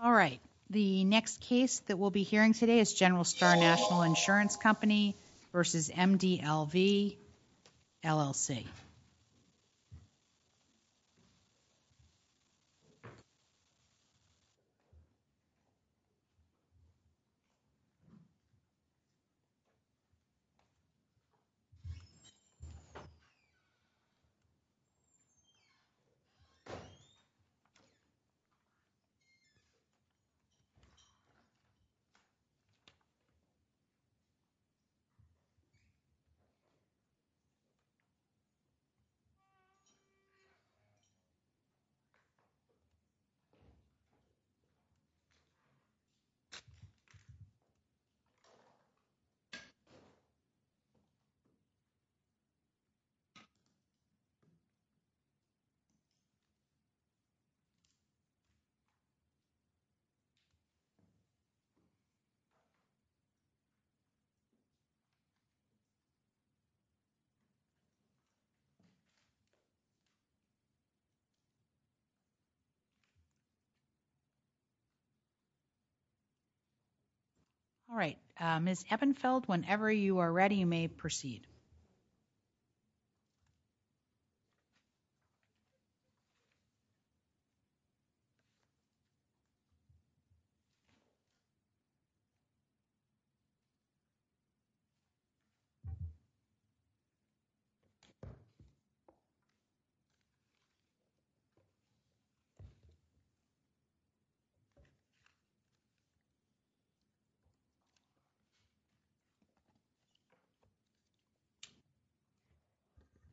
All right, the next case that we'll be hearing today is General Star National Insurance Company v. MDLV LLC. All right. Ms. Ebenfeld. Ms. Ebenfeld, whenever you are ready, you may proceed.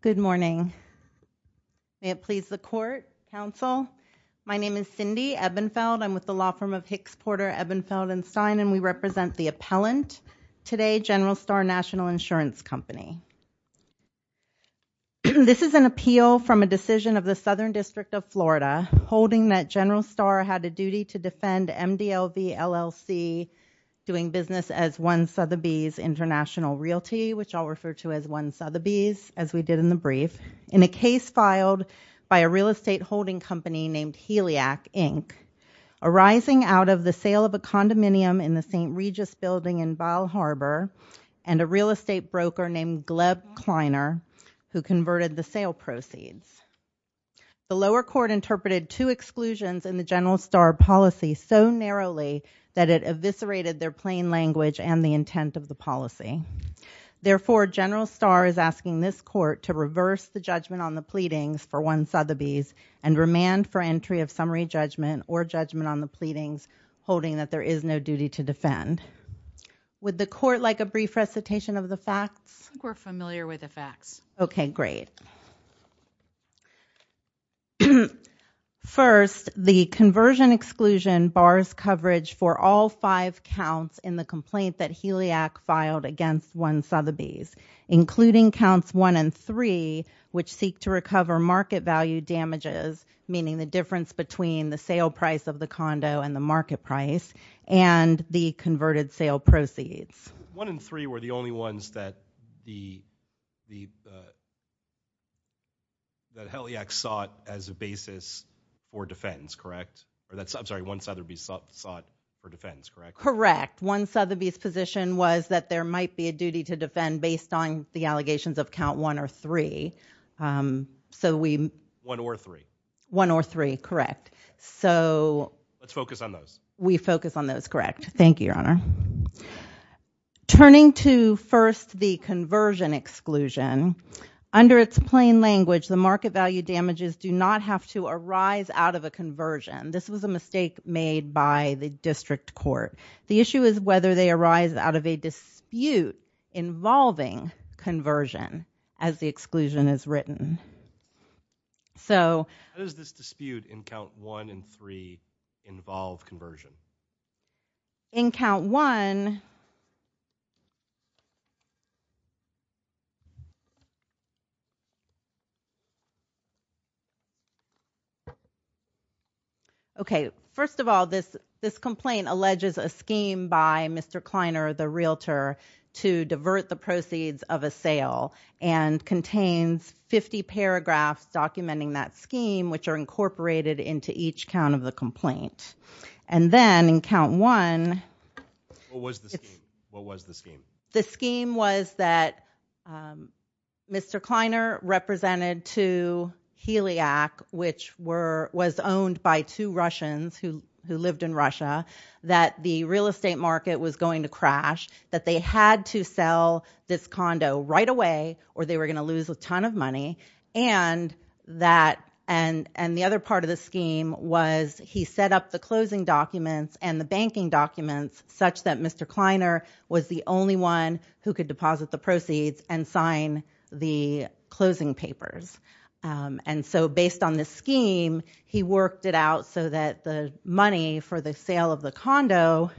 Ms. Ebenfeld, you may proceed. Ms. Ebenfeld. May it please the court, counsel. My name is Cindy Ebenfeld. I'm with the law firm of Hicks, Porter, Ebenfeld & Stein, and we represent the appellant. Today, General Star National Insurance Company. This is an appeal from a decision of the Southern District of Florida holding that General Star had a duty to defend MDLV LLC doing business as One Sotheby's International Realty, which I'll refer to as One Sotheby's, as we did in the brief. In a case filed by a real estate holding company named Heliac, Inc., arising out of the sale of a condominium in the St. Regis building in Vile Harbor and a real estate broker named Gleb Kleiner, who converted the sale proceeds. The lower court interpreted two exclusions in the General Star policy so narrowly that it eviscerated their plain language and the intent of the policy. Therefore, General Star is asking this court to reverse the judgment on the pleadings for One Sotheby's and remand for entry of summary judgment or judgment on the pleadings holding that there is no duty to defend. Would the court like a brief recitation of the facts? I think we're familiar with the facts. Okay, great. First, the conversion exclusion bars coverage for all five counts in the complaint that Heliac filed against One Sotheby's, including counts one and three, which seek to recover market value damages, meaning the difference between the sale price of the condo and the market price, and the converted sale proceeds. One and three were the only ones that Heliac sought as a basis for defense, correct? I'm sorry, One Sotheby's sought for defense, correct? Correct. One Sotheby's position was that there might be a duty to defend based on the allegations of count one or three. One or three. One or three, correct. Let's focus on those. We focus on those, correct. Thank you, Your Honor. Turning to, first, the conversion exclusion, under its plain language, the market value damages do not have to arise out of a conversion. This was a mistake made by the district court. The issue is whether they arise out of a dispute involving conversion as the exclusion is written. So... How does this dispute in count one and three involve conversion? In count one... Okay, first of all, this complaint alleges a scheme by Mr. Kleiner, the realtor, to divert the proceeds of a sale and contains 50 paragraphs documenting that scheme, which are incorporated into each count of the complaint. And then, in count one... What was the scheme? The scheme was that Mr. Kleiner represented to Heliac, which was owned by two Russians who lived in Russia, that the real estate market was going to crash, that they had to sell this condo right away or they were going to lose a ton of money, and the other part of the scheme was he set up the closing documents and the banking documents such that Mr. Kleiner was the only one who could deposit the proceeds and sign the closing papers. And so, based on this scheme, he worked it out so that the money for the sale of the condo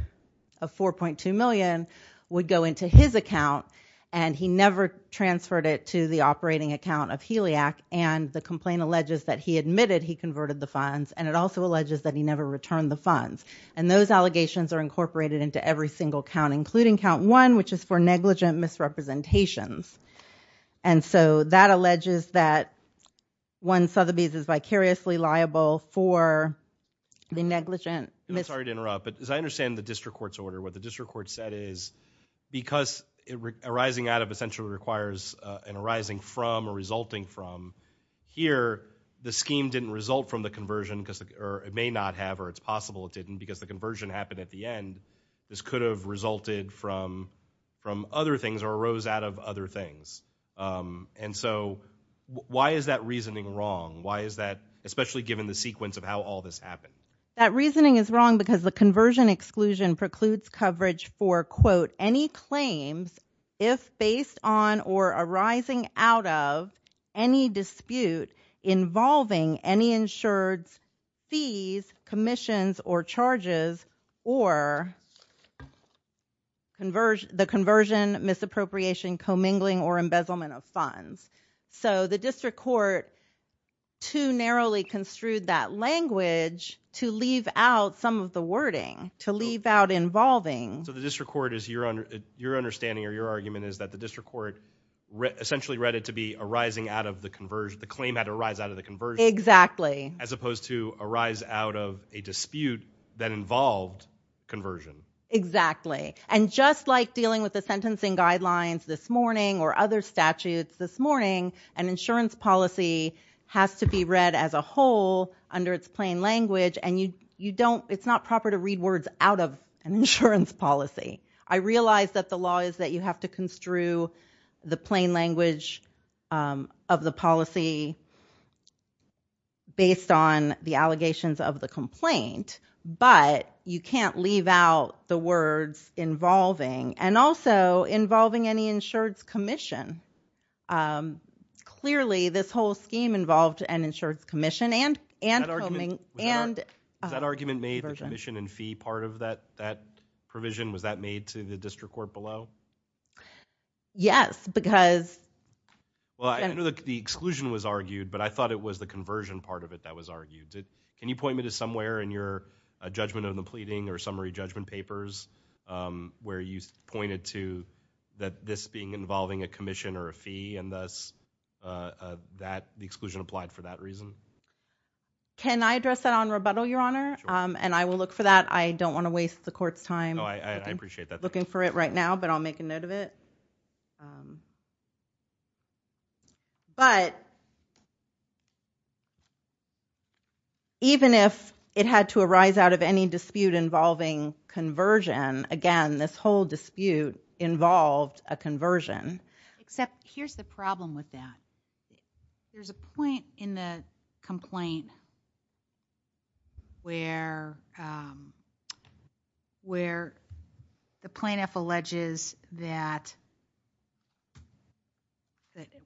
of 4.2 million would go into his account and he never transferred it to the operating account of Heliac and the complaint alleges that he admitted he converted the funds and it also alleges that he never returned the funds. And those allegations are incorporated into every single count, including count one, which is for negligent misrepresentations. And so, that alleges that one Sotheby's is vicariously liable for the negligent... I'm sorry to interrupt, but as I understand the district court's order, what the district court said is because arising out of essentially requires an arising from or resulting from, here, the scheme didn't result from the conversion or it may not have or it's possible it didn't because the conversion happened at the end. This could have resulted from other things or arose out of other things. And so, why is that reasoning wrong? Why is that, especially given the sequence of how all this happened? That reasoning is wrong because the conversion exclusion precludes coverage for, quote, if based on or arising out of any dispute involving any insured fees, commissions or charges or the conversion, misappropriation, commingling or embezzlement of funds. So, the district court too narrowly construed that language to leave out some of the wording, to leave out involving... So, the district court is your understanding or your argument is that the district court essentially read it to be arising out of the conversion, the claim had to arise out of the conversion. Exactly. As opposed to arise out of a dispute that involved conversion. Exactly. And just like dealing with the sentencing guidelines this morning or other statutes this morning, an insurance policy has to be read as a whole under its plain language and you don't, it's not proper to read words out of an insurance policy. I realize that the law is that you have to construe the plain language of the policy based on the allegations of the complaint, but you can't leave out the words involving and also involving any insurance commission. Clearly, this whole scheme involved an insurance commission and... Was that argument made, the commission and fee part of that provision, was that made to the district court below? Yes, because... Well, I know that the exclusion was argued, but I thought it was the conversion part of it that was argued. Can you point me to somewhere in your judgment of the pleading or summary judgment papers where you pointed to that this being involving a commission or a fee and thus the exclusion applied for that reason? Can I address that on rebuttal, Your Honor? Sure. And I will look for that. I don't want to waste the court's time. Oh, I appreciate that. Looking for it right now, but I'll make a note of it. But even if it had to arise out of any dispute involving conversion, again, this whole dispute involved a conversion. Except here's the problem with that. There's a point in the complaint where the plaintiff alleges that...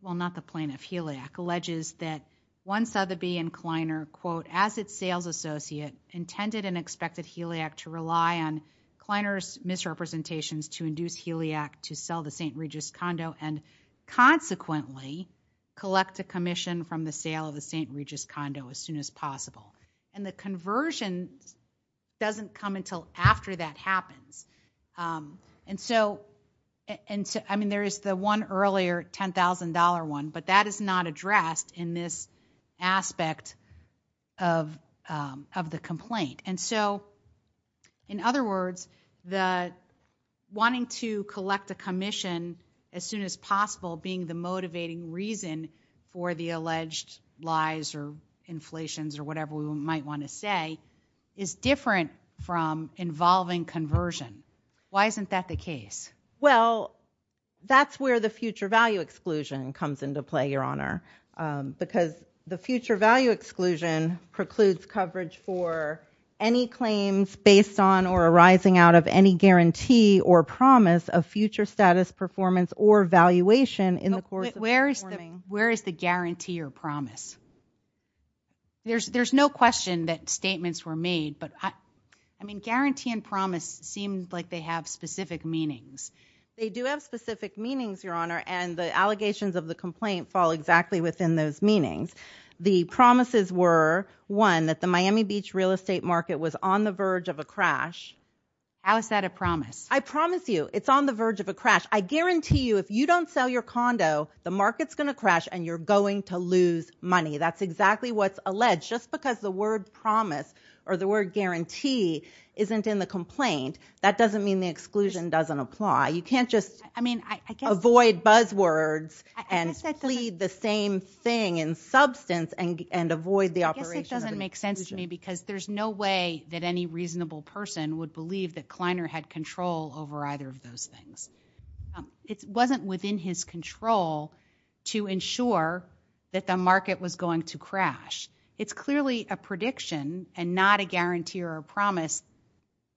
Well, not the plaintiff, Heliac, alleges that one Sotheby and Kleiner, quote, as its sales associate, intended and expected Heliac to rely on Kleiner's misrepresentations to induce Heliac to sell the St. Regis condo and consequently collect a commission from the sale of the St. Regis condo as soon as possible. And the conversion doesn't come until after that happens. And so, I mean, there is the one earlier $10,000 one, but that is not addressed in this aspect of the complaint. And so, in other words, the wanting to collect a commission as soon as possible being the motivating reason for the alleged lies or inflations or whatever we might want to say is different from involving conversion. Why isn't that the case? Well, that's where the future value exclusion comes into play, Your Honor, because the future value exclusion precludes coverage for any claims based on or arising out of any guarantee or promise of future status, performance, or valuation in the course of performing... Where is the guarantee or promise? There's no question that statements were made, but, I mean, guarantee and promise seem like they have specific meanings. They do have specific meanings, Your Honor, and the allegations of the complaint fall exactly within those meanings. The promises were, one, that the Miami Beach real estate market was on the verge of a crash. How is that a promise? I promise you it's on the verge of a crash. I guarantee you if you don't sell your condo, the market's going to crash and you're going to lose money. That's exactly what's alleged. Just because the word promise or the word guarantee isn't in the complaint, that doesn't mean the exclusion doesn't apply. You can't just avoid buzzwords and plead the same thing in substance and avoid the operation of an exclusion. I guess that doesn't make sense to me because there's no way that any reasonable person would believe that Kleiner had control over either of those things. It wasn't within his control to ensure that the market was going to crash. It's clearly a prediction and not a guarantee or a promise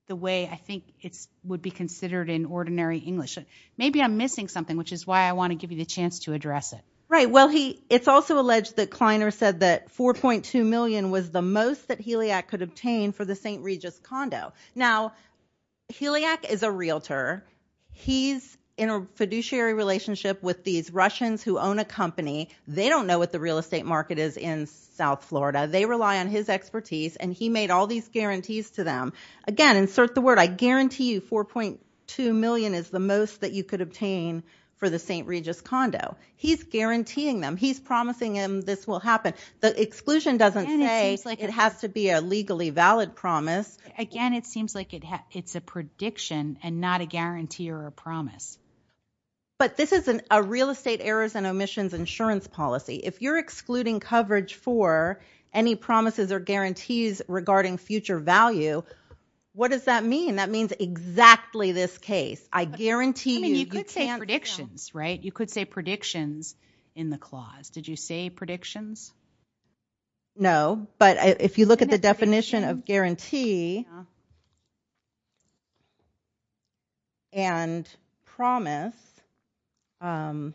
the way I think it would be considered in ordinary English. Maybe I'm missing something, which is why I want to give you the chance to address it. Right. Well, it's also alleged that Kleiner said that $4.2 million was the most that Heliac could obtain for the St. Regis condo. Now, Heliac is a realtor. He's in a fiduciary relationship with these Russians who own a company. They don't know what the real estate market is in South Florida. They rely on his expertise, and he made all these guarantees to them. Again, insert the word, I guarantee you $4.2 million is the most that you could obtain for the St. Regis condo. He's guaranteeing them. He's promising them this will happen. The exclusion doesn't say it has to be a legally valid promise. Again, it seems like it's a prediction and not a guarantee or a promise. But this is a real estate errors and omissions insurance policy. If you're excluding coverage for any promises or guarantees regarding future value, what does that mean? That means exactly this case. I guarantee you. I mean, you could say predictions, right? You could say predictions in the clause. Did you say predictions? No. But if you look at the definition of guarantee and promise, and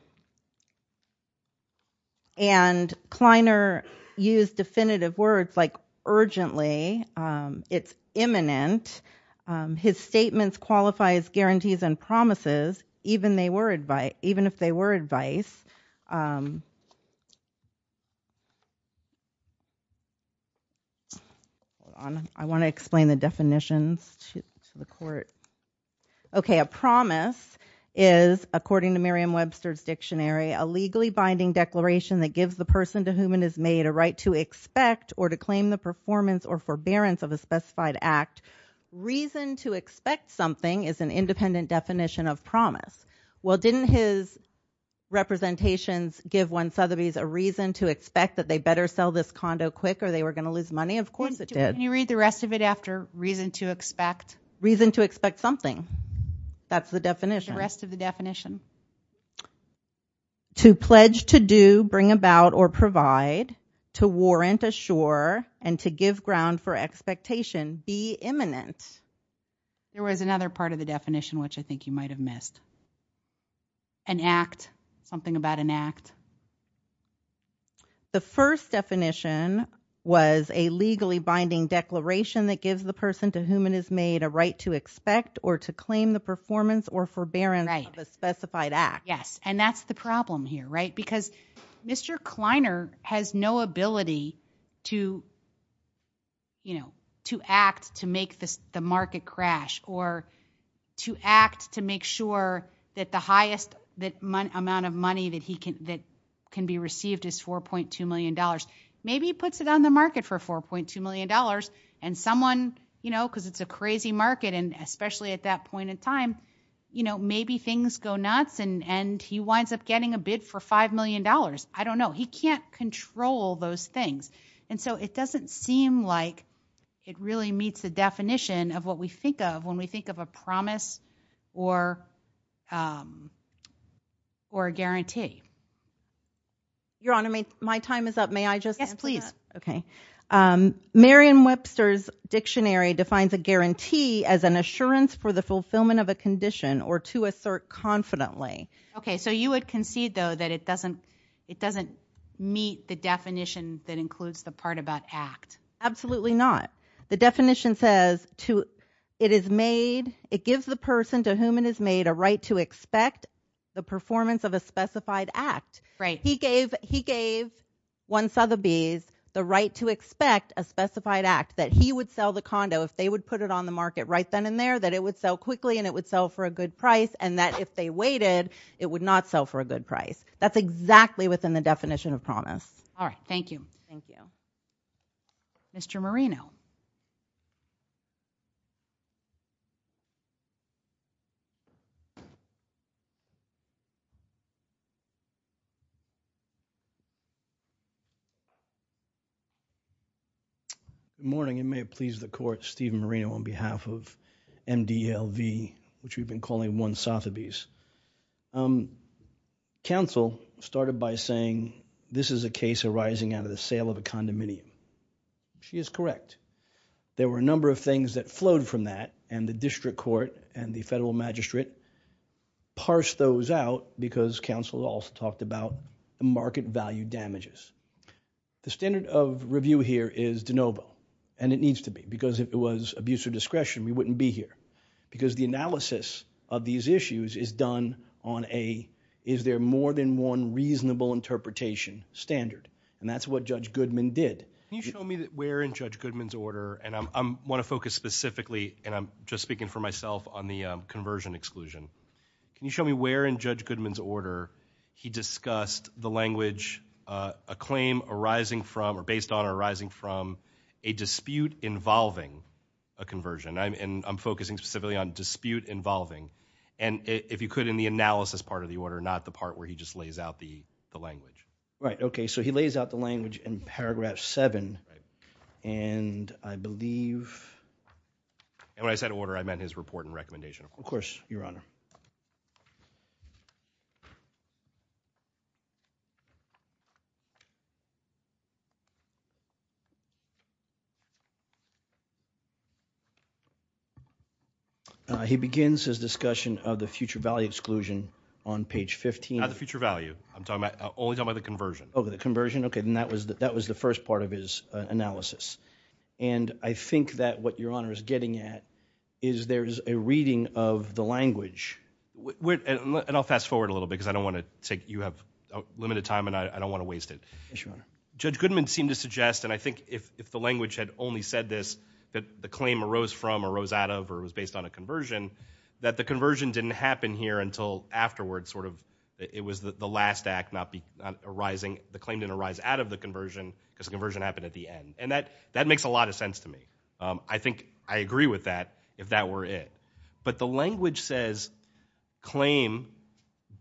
Kleiner used definitive words like urgently. It's imminent. His statements qualify as guarantees and promises, even if they were advice. Hold on. I want to explain the definitions to the court. Okay, a promise is, according to Merriam-Webster's dictionary, a legally binding declaration that gives the person to whom it is made a right to expect or to claim the performance or forbearance of a specified act. Reason to expect something is an independent definition of promise. Well, didn't his representations give one Sotheby's a reason to expect that they better sell this condo quick or they were going to lose money? Of course it did. Can you read the rest of it after reason to expect? Reason to expect something. That's the definition. The rest of the definition. To pledge to do, bring about, or provide. To warrant, assure, and to give ground for expectation. Be imminent. There was another part of the definition which I think you might have missed. An act. Something about an act. The first definition was a legally binding declaration that gives the person to whom it is made a right to expect or to claim the performance or forbearance of a specified act. Yes, and that's the problem here, right? Because Mr. Kleiner has no ability to, you know, to act to make the market crash or to act to make sure that the highest amount of money that can be received is $4.2 million. Maybe he puts it on the market for $4.2 million and someone, you know, because it's a crazy market and especially at that point in time, you know, maybe things go nuts and he winds up getting a bid for $5 million. I don't know. He can't control those things. And so it doesn't seem like it really meets the definition of what we think of when we think of a promise or a guarantee. Your Honor, my time is up. May I just answer that? Yes, please. Okay. Merriam-Webster's dictionary defines a guarantee as an assurance for the fulfillment of a condition or to assert confidently. Okay, so you would concede, though, that it doesn't meet the definition that includes the part about act. Absolutely not. The definition says it is made, it gives the person to whom it is made a right to expect the performance of a specified act. Right. He gave one Sotheby's the right to expect a specified act, that he would sell the condo if they would put it on the market right then and there, that it would sell quickly and it would sell for a good price, and that if they waited, it would not sell for a good price. That's exactly within the definition of promise. All right. Thank you. Thank you. Mr. Marino. Good morning. It may please the Court, Steve Marino on behalf of MDLV, which we've been calling One Sotheby's. Counsel started by saying this is a case arising out of the sale of a condominium. She is correct. There were a number of things that flowed from that, and the District Court and the Federal Magistrate parsed those out because Counsel also talked about the market value damages. The standard of review here is de novo, and it needs to be, because if it was abuse of discretion, we wouldn't be here. Because the analysis of these issues is done on a, is there more than one reasonable interpretation standard? And that's what Judge Goodman did. Can you show me where in Judge Goodman's order, and I want to focus specifically, and I'm just speaking for myself on the conversion exclusion. Can you show me where in Judge Goodman's order he discussed the language, a claim arising from, or based on arising from, a dispute involving a conversion? And I'm focusing specifically on dispute involving. And if you could, in the analysis part of the order, not the part where he just lays out the language. Right, okay. So he lays out the language in paragraph 7, and I believe. And when I said order, I meant his report and recommendation. Of course, Your Honor. He begins his discussion of the future value exclusion on page 15. Not the future value. I'm only talking about the conversion. Oh, the conversion. Okay, and that was the first part of his analysis. And I think that what Your Honor is getting at is there is a reading of the language. And I'll fast forward a little bit because I don't want to take, you have limited time and I don't want to waste it. Yes, Your Honor. Judge Goodman seemed to suggest, and I think if the language had only said this, that the claim arose from, arose out of, or was based on a conversion, that the conversion didn't happen here until afterwards, sort of. It was the last act not arising. The claim didn't arise out of the conversion because the conversion happened at the end. And that makes a lot of sense to me. I think I agree with that if that were it. But the language says claim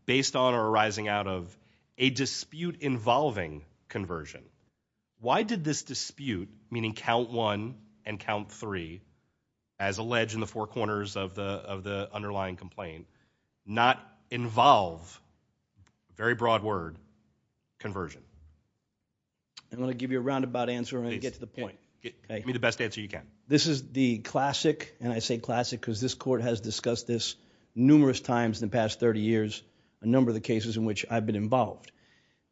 based on or arising out of a dispute involving conversion. Why did this dispute, meaning count one and count three, as alleged in the four corners of the underlying complaint, not involve, very broad word, conversion? I'm going to give you a roundabout answer and get to the point. Give me the best answer you can. This is the classic, and I say classic because this court has discussed this numerous times in the past 30 years, a number of the cases in which I've been involved.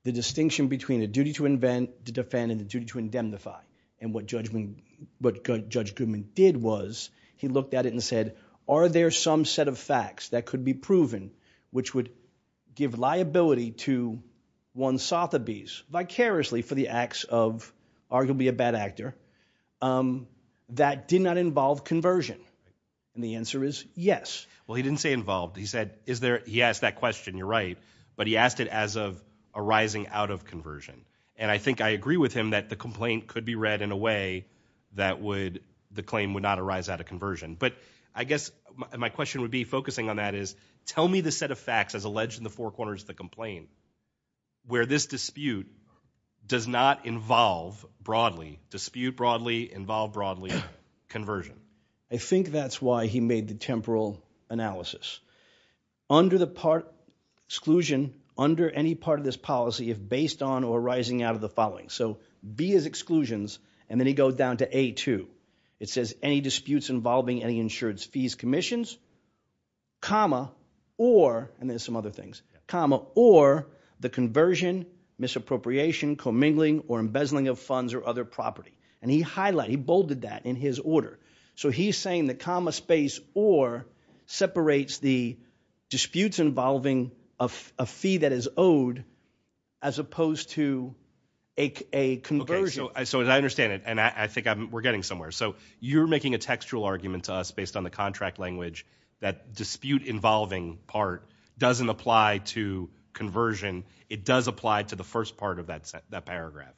The distinction between a duty to invent, to defend, and a duty to indemnify. And what Judge Goodman did was he looked at it and said, are there some set of facts that could be proven, which would give liability to Juan Sotheby's, vicariously for the acts of arguably a bad actor, that did not involve conversion? And the answer is yes. Well, he didn't say involved. He said, is there, he asked that question, you're right. But he asked it as of arising out of conversion. And I think I agree with him that the complaint could be read in a way that would, the claim would not arise out of conversion. But I guess my question would be focusing on that is, tell me the set of facts as alleged in the four corners of the complaint where this dispute does not involve broadly, dispute broadly, involve broadly, conversion. I think that's why he made the temporal analysis. Under the exclusion, under any part of this policy, if based on or arising out of the following. So B is exclusions, and then he goes down to A2. It says any disputes involving any insured fees, commissions, comma, or, and there's some other things, comma, or the conversion, misappropriation, commingling, or embezzling of funds or other property. And he highlighted, he bolded that in his order. So he's saying the comma space or separates the disputes involving a fee that is owed as opposed to a conversion. Okay. So as I understand it, and I think we're getting somewhere. So you're making a textual argument to us based on the contract language that dispute involving part doesn't apply to conversion. It does apply to the first part of that paragraph.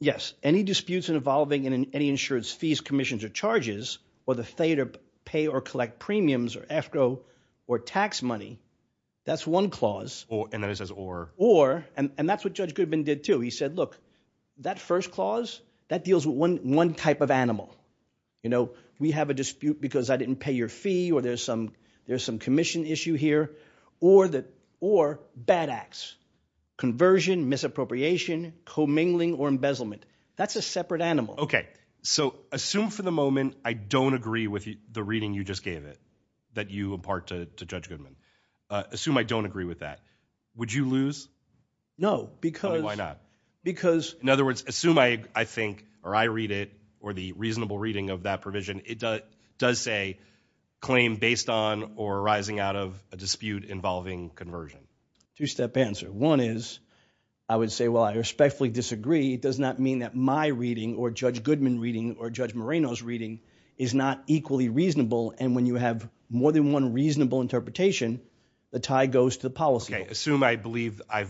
Yes. Any disputes involving any insured fees, commissions, or charges, or the failure to pay or collect premiums, or escrow, or tax money. That's one clause. And then it says or. Or, and that's what Judge Goodman did too. He said, look, that first clause, that deals with one type of animal. You know, we have a dispute because I didn't pay your fee, or there's some commission issue here. Or bad acts. Conversion, misappropriation, commingling, or embezzlement. That's a separate animal. Okay. So assume for the moment I don't agree with the reading you just gave it, that you impart to Judge Goodman. Assume I don't agree with that. Would you lose? No, because. Why not? Because. In other words, assume I think, or I read it, or the reasonable reading of that provision, it does say claim based on or arising out of a dispute involving conversion. Two-step answer. One is, I would say, well, I respectfully disagree. It does not mean that my reading, or Judge Goodman's reading, or Judge Moreno's reading is not equally reasonable. And when you have more than one reasonable interpretation, the tie goes to the policy. Okay. Assume I believe, I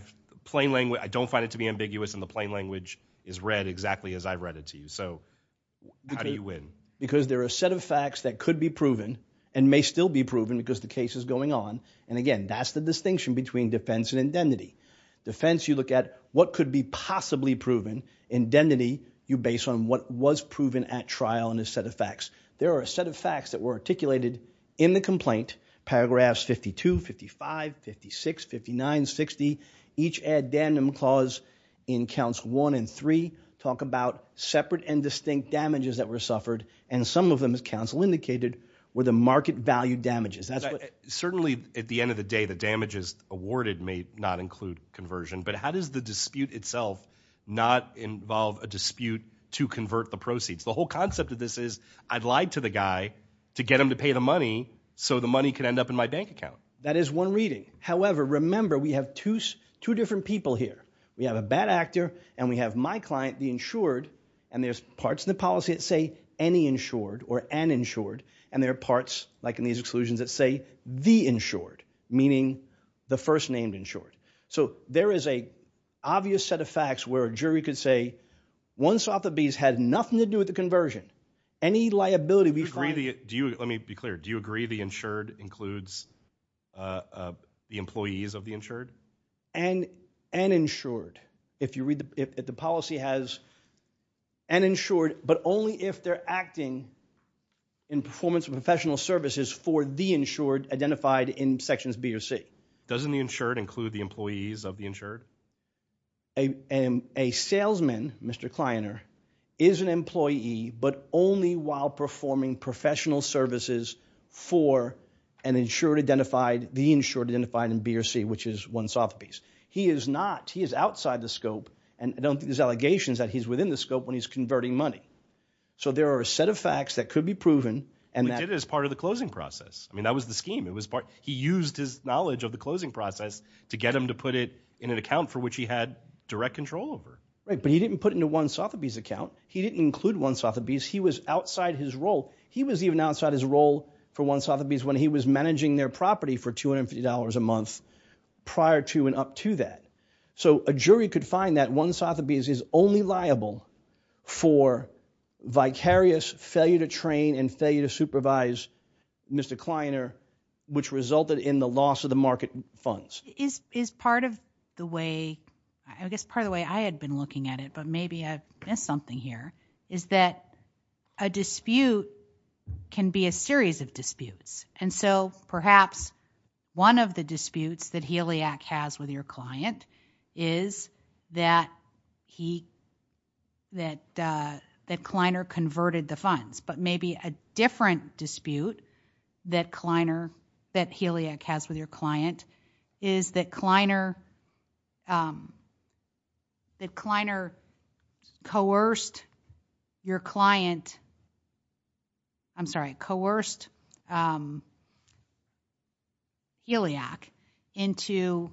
don't find it to be ambiguous, and the plain language is read exactly as I read it to you. So how do you win? Because there are a set of facts that could be proven and may still be proven because the case is going on. And, again, that's the distinction between defense and indemnity. Defense, you look at what could be possibly proven. Indemnity, you base on what was proven at trial in a set of facts. There are a set of facts that were articulated in the complaint, paragraphs 52, 55, 56, 59, 60. Each addendum clause in counts one and three talk about separate and distinct damages that were suffered, and some of them, as counsel indicated, were the market value damages. Certainly, at the end of the day, the damages awarded may not include conversion, but how does the dispute itself not involve a dispute to convert the proceeds? The whole concept of this is I lied to the guy to get him to pay the money so the money could end up in my bank account. That is one reading. However, remember, we have two different people here. We have a bad actor and we have my client, the insured, and there's parts of the policy that say any insured or an insured, and there are parts, like in these exclusions, that say the insured, meaning the first-named insured. So there is an obvious set of facts where a jury could say one Sotheby's had nothing to do with the conversion. Any liability we find... Let me be clear. Do you agree the insured includes the employees of the insured? An insured. If you read the policy, it has an insured, but only if they're acting in performance of professional services for the insured identified in Sections B or C. Doesn't the insured include the employees of the insured? A salesman, Mr. Kleiner, is an employee, but only while performing professional services for an insured identified, the insured identified in B or C, which is one Sotheby's. He is not, he is outside the scope, and I don't think there's allegations that he's within the scope when he's converting money. So there are a set of facts that could be proven... He did it as part of the closing process. I mean, that was the scheme. He used his knowledge of the closing process to get him to put it in an account for which he had direct control over. Right, but he didn't put it into one Sotheby's account. He didn't include one Sotheby's. He was outside his role. He was even outside his role for one Sotheby's when he was managing their property for $250 a month prior to and up to that. So a jury could find that one Sotheby's is only liable for vicarious failure to train and failure to supervise Mr. Kleiner, which resulted in the loss of the market funds. Is part of the way... I guess part of the way I had been looking at it, but maybe I've missed something here, is that a dispute can be a series of disputes. And so perhaps one of the disputes that Heliac has with your client is that Kleiner converted the funds. But maybe a different dispute that Kleiner... that Heliac has with your client is that Kleiner... that Kleiner coerced your client... I'm sorry, coerced Heliac into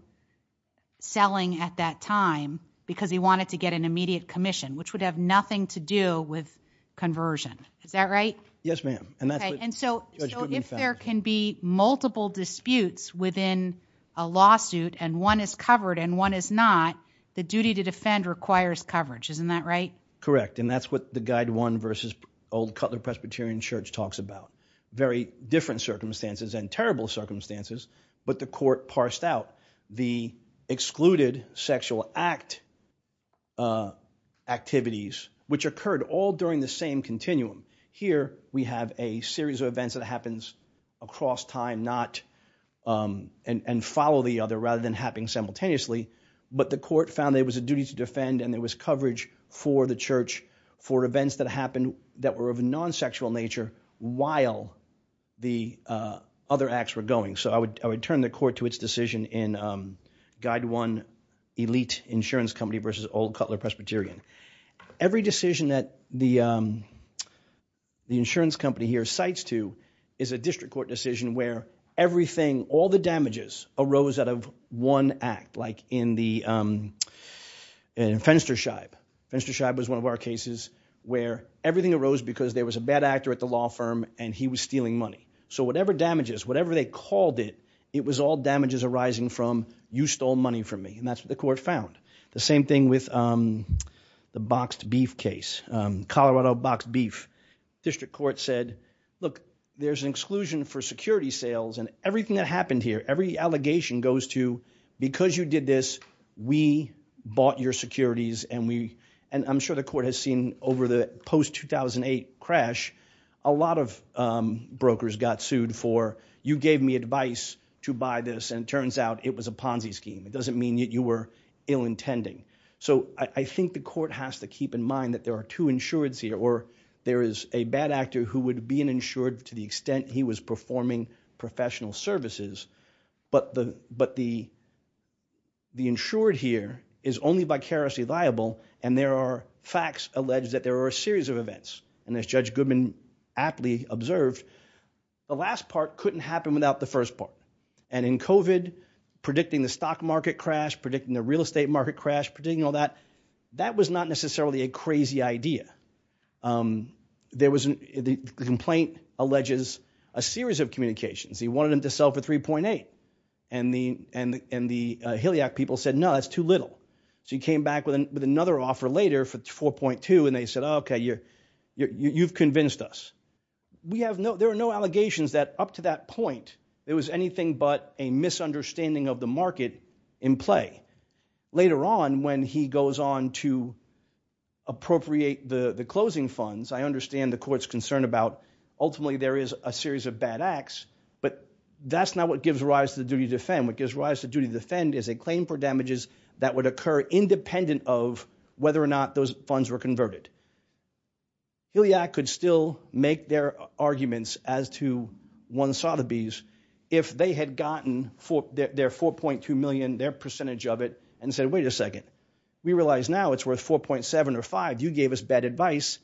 selling at that time because he wanted to get an immediate commission, which would have nothing to do with conversion. Is that right? Yes, ma'am. And so if there can be multiple disputes within a lawsuit and one is covered and one is not, the duty to defend requires coverage. Isn't that right? Correct. And that's what the Guide 1 versus Old Cutler Presbyterian Church talks about. Very different circumstances and terrible circumstances, but the court parsed out the excluded sexual act activities, which occurred all during the same continuum. Here we have a series of events that happens across time and follow the other rather than happening simultaneously, but the court found there was a duty to defend and there was coverage for the church for events that happened that were of a non-sexual nature while the other acts were going. So I would turn the court to its decision in Guide 1 Elite Insurance Company versus Old Cutler Presbyterian. Every decision that the insurance company here cites to is a district court decision where everything, all the damages arose out of one act, like in Fenstersheib. Fenstersheib was one of our cases where everything arose because there was a bad actor at the law firm and he was stealing money. So whatever damages, whatever they called it, it was all damages arising from you stole money from me and that's what the court found. The same thing with the boxed beef case, Colorado boxed beef. District court said, look, there's an exclusion for security sales and everything that happened here, every allegation goes to because you did this, we bought your securities and I'm sure the court has seen over the post-2008 crash, a lot of brokers got sued for you gave me advice to buy this and it turns out it was a Ponzi scheme. It doesn't mean that you were ill-intending. So I think the court has to keep in mind that there are two insureds here or there is a bad actor who would be an insured to the extent he was performing professional services but the insured here is only vicariously liable and there are facts alleged that there are a series of events and as Judge Goodman aptly observed, the last part couldn't happen without the first part and in COVID, predicting the stock market crash, predicting the real estate market crash, predicting all that, that was not necessarily a crazy idea. The complaint alleges a series of communications. He wanted them to sell for 3.8 and the HILIAC people said, no, that's too little. So he came back with another offer later for 4.2 and they said, okay, you've convinced us. There are no allegations that up to that point, there was anything but a misunderstanding of the market in play. Later on, when he goes on to appropriate the closing funds, I understand the court's concern about ultimately, there is a series of bad acts but that's not what gives rise to the duty to defend. What gives rise to duty to defend is a claim for damages that would occur independent of whether or not those funds were converted. HILIAC could still make their arguments as to one Sotheby's if they had gotten their 4.2 million, their percentage of it and said, wait a second, we realize now it's worth 4.7 or 5. You gave us bad advice.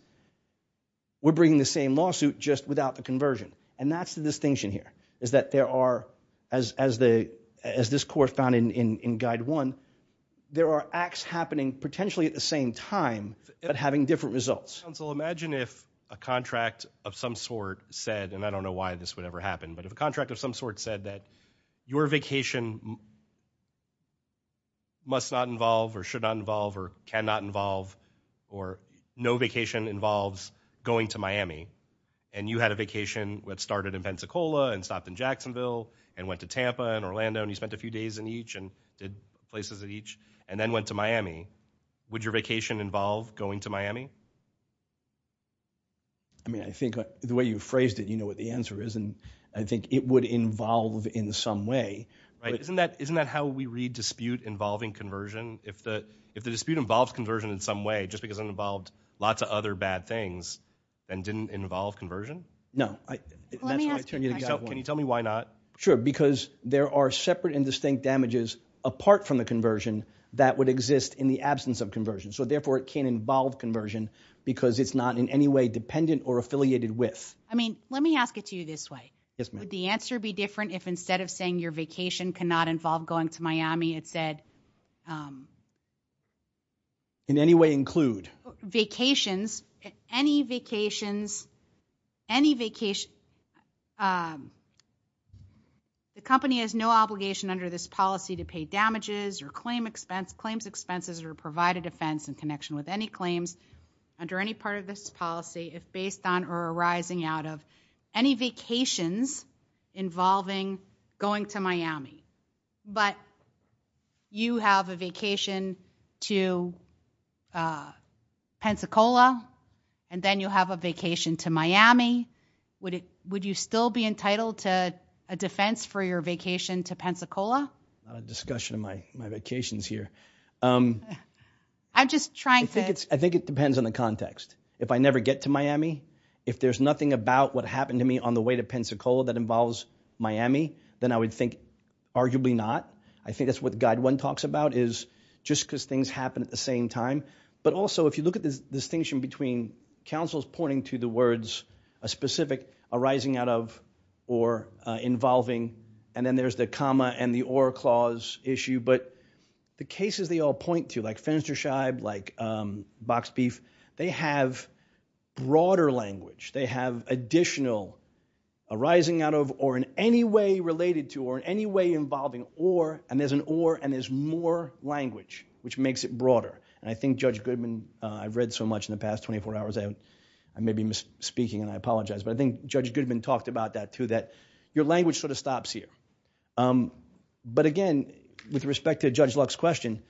We're bringing the same lawsuit just without the conversion and that's the distinction here is that there are, as this court found in Guide 1, there are acts happening potentially at the same time but having different results. Counsel, imagine if a contract of some sort said, and I don't know why this would ever happen, but if a contract of some sort said that your vacation must not involve or should not involve or cannot involve or no vacation involves going to Miami and you had a vacation that started in Pensacola and stopped in Jacksonville and went to Tampa and Orlando and you spent a few days in each and did places in each and then went to Miami. Would your vacation involve going to Miami? I mean, I think the way you phrased it, you know what the answer is and I think it would involve in some way. Isn't that how we read dispute involving conversion? If the dispute involves conversion in some way just because it involved lots of other bad things and didn't involve conversion? No. Can you tell me why not? Sure, because there are separate and distinct damages apart from the conversion that would exist in the absence of conversion. So therefore, it can't involve conversion because it's not in any way dependent or affiliated with. I mean, let me ask it to you this way. Would the answer be different if instead of saying your vacation cannot involve going to Miami, it said... In any way include. Vacations, any vacations, any vacation. The company has no obligation under this policy to pay damages or claim expense, claims expenses or provide a defense in connection with any claims under any part of this policy if based on or arising out of any vacations involving going to Miami. But you have a vacation to Pensacola and then you have a vacation to Miami. Would you still be entitled to a defense for your vacation to Pensacola? Not a discussion of my vacations here. I'm just trying to... I think it depends on the context. If I never get to Miami, if there's nothing about what happened to me on the way to Pensacola that involves Miami, then I would think arguably not. I think that's what Guide 1 talks about is just because things happen at the same time. But also if you look at the distinction between counsels pointing to the words, a specific arising out of or involving, and then there's the comma and the or clause issue. But the cases they all point to, like Fenstersheib, like Box Beef, they have broader language. They have additional arising out of or in any way related to or in any way involving or, and there's an or and there's more language, which makes it broader. And I think Judge Goodman, I've read so much in the past 24 hours, I may be speaking and I apologize, but I think Judge Goodman talked about that too, that your language sort of stops here. But again, with respect to Judge Luck's question,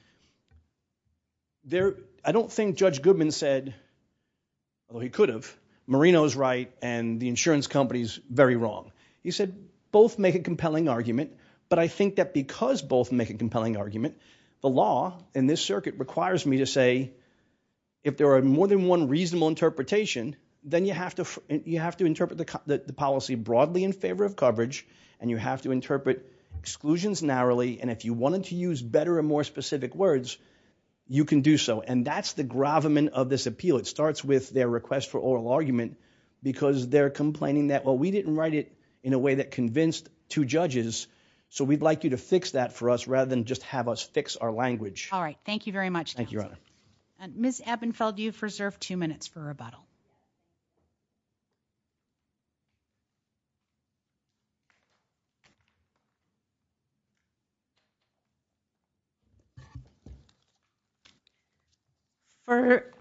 I don't think Judge Goodman said, although he could have, Marino's right and the insurance company's very wrong. He said both make a compelling argument, but I think that because both make a compelling argument, the law in this circuit requires me to say if there are more than one reasonable interpretation, then you have to interpret the policy broadly in favor of coverage, and you have to interpret exclusions narrowly, and if you wanted to use better and more specific words, you can do so. And that's the gravamen of this appeal. It starts with their request for oral argument because they're complaining that, well, we didn't write it in a way that convinced two judges, so we'd like you to fix that for us rather than just have us fix our language. All right, thank you very much, counsel. Thank you, Your Honor. Ms. Ebenfeld, you've reserved two minutes for rebuttal.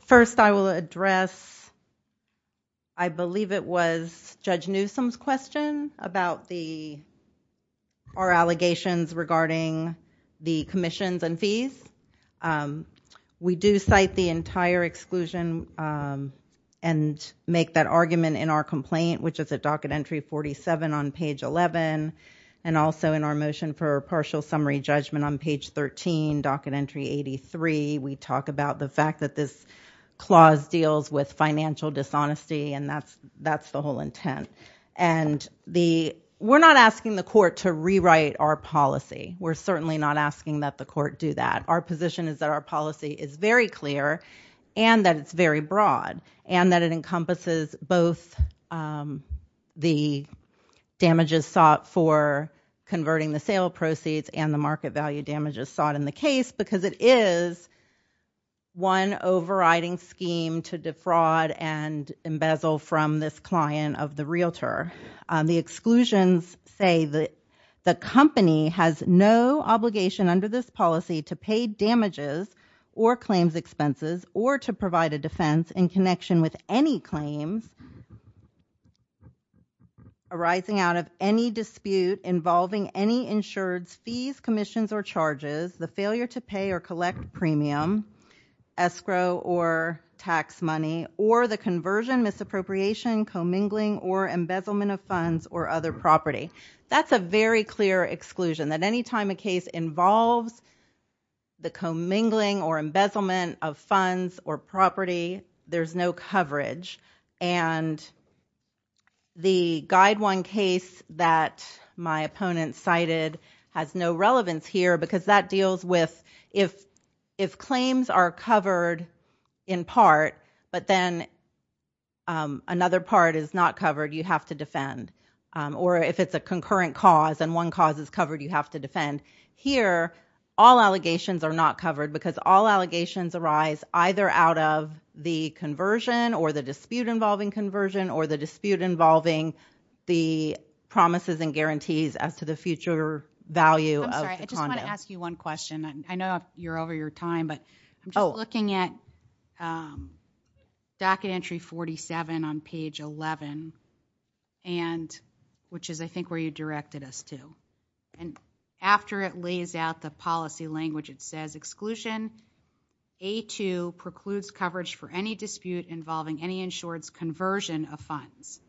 First, I will address, I believe it was Judge Newsom's question about our allegations regarding the commissions and fees. We do cite the entire exclusion and make that argument in our complaint, which is at docket entry 47 on page 11, and also in our motion for partial summary judgment on page 13, docket entry 83, we talk about the fact that this clause deals with financial dishonesty, and that's the whole intent. And we're not asking the court to rewrite our policy. We're certainly not asking that the court do that. Our position is that our policy is very clear and that it's very broad, and that it encompasses both the damages sought for converting the sale proceeds and the market value damages sought in the case because it is one overriding scheme to defraud and embezzle from this client of the realtor. The exclusions say that the company has no obligation under this policy to pay damages or claims expenses or to provide a defense in connection with any claims commissions or charges, the failure to pay or collect premium, escrow or tax money, or the conversion, misappropriation, commingling, or embezzlement of funds or other property. That's a very clear exclusion, that any time a case involves the commingling or embezzlement of funds or property, there's no coverage. And the guide one case that my opponent cited has no relevance here because that deals with if claims are covered in part, but then another part is not covered, you have to defend. Or if it's a concurrent cause and one cause is covered, you have to defend. Here, all allegations are not covered because all allegations arise either out of the conversion or the dispute involving conversion or the dispute involving the promises and guarantees as to the future value of the condo. I'm sorry, I just want to ask you one question. I know you're over your time, but I'm just looking at docket entry 47 on page 11, which is, I think, where you directed us to. And after it lays out the policy language, it says, exclusion A-2 precludes coverage for any dispute involving any insured's conversion of funds.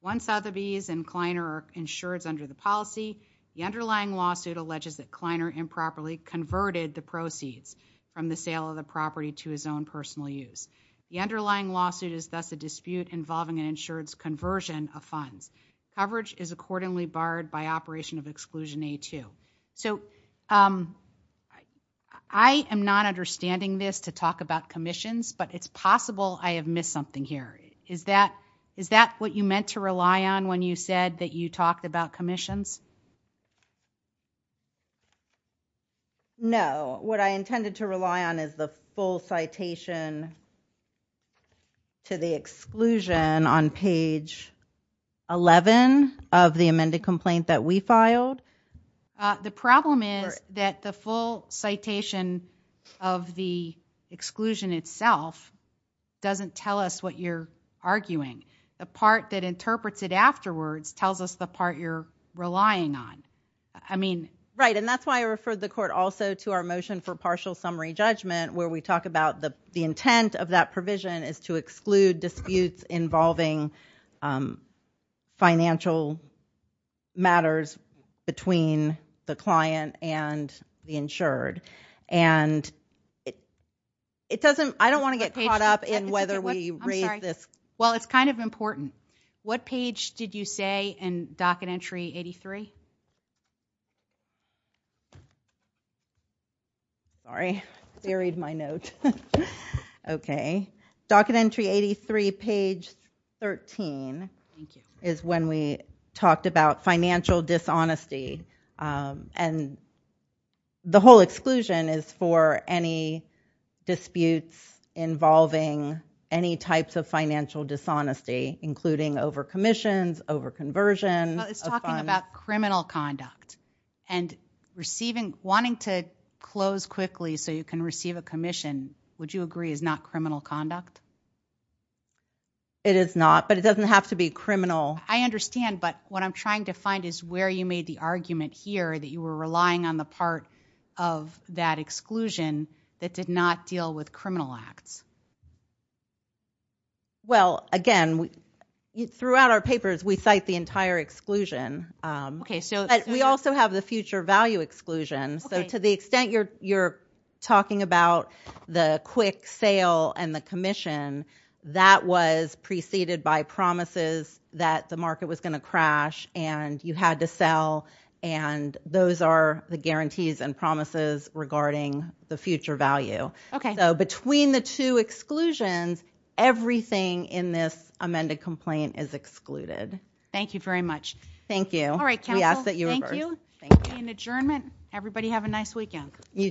Once Sotheby's and Kleiner are insured's under the policy, the underlying lawsuit alleges that Kleiner improperly converted the proceeds from the sale of the property to his own personal use. The underlying lawsuit is thus a dispute involving an insured's conversion of funds. Coverage is accordingly barred by operation of exclusion A-2. So, I am not understanding this to talk about commissions, but it's possible I have missed something here. Is that what you meant to rely on when you said that you talked about commissions? No. What I intended to rely on is the full citation to the exclusion on page 11 of the amended complaint that we filed. The problem is that the full citation of the exclusion itself doesn't tell us what you're arguing. The part that interprets it afterwards tells us the part you're relying on. I mean... Right, and that's why I referred the court also to our motion for partial summary judgment where we talk about the intent of that provision is to exclude disputes involving financial matters between the client and the insured. It doesn't... I don't want to get caught up in whether we raise this... I'm sorry. Well, it's kind of important. What page did you say in docket entry 83? Sorry. Buried my note. Okay. Docket entry 83, page 13 is when we talked about financial dishonesty. And the whole exclusion is for any disputes involving any types of financial dishonesty including over commissions, over conversion of funds. It's talking about criminal conduct and receiving... wanting to close quickly so you can receive a commission, would you agree is not criminal conduct? It is not, but it doesn't have to be criminal. I understand, but what I'm trying to find is where you made the argument here that you were relying on the part of that exclusion that did not deal with criminal acts. Well, again, throughout our papers, we cite the entire exclusion. Okay, so... But we also have the future value exclusion. Okay. So to the extent you're talking about the quick sale and the commission, that was preceded by promises that the market was going to crash and you had to sell and those are the guarantees and promises regarding the future value. Okay. So between the two exclusions, everything in this amended complaint is excluded. Thank you very much. Thank you. All right, counsel. Thank you. An adjournment. Everybody have a nice weekend. You too.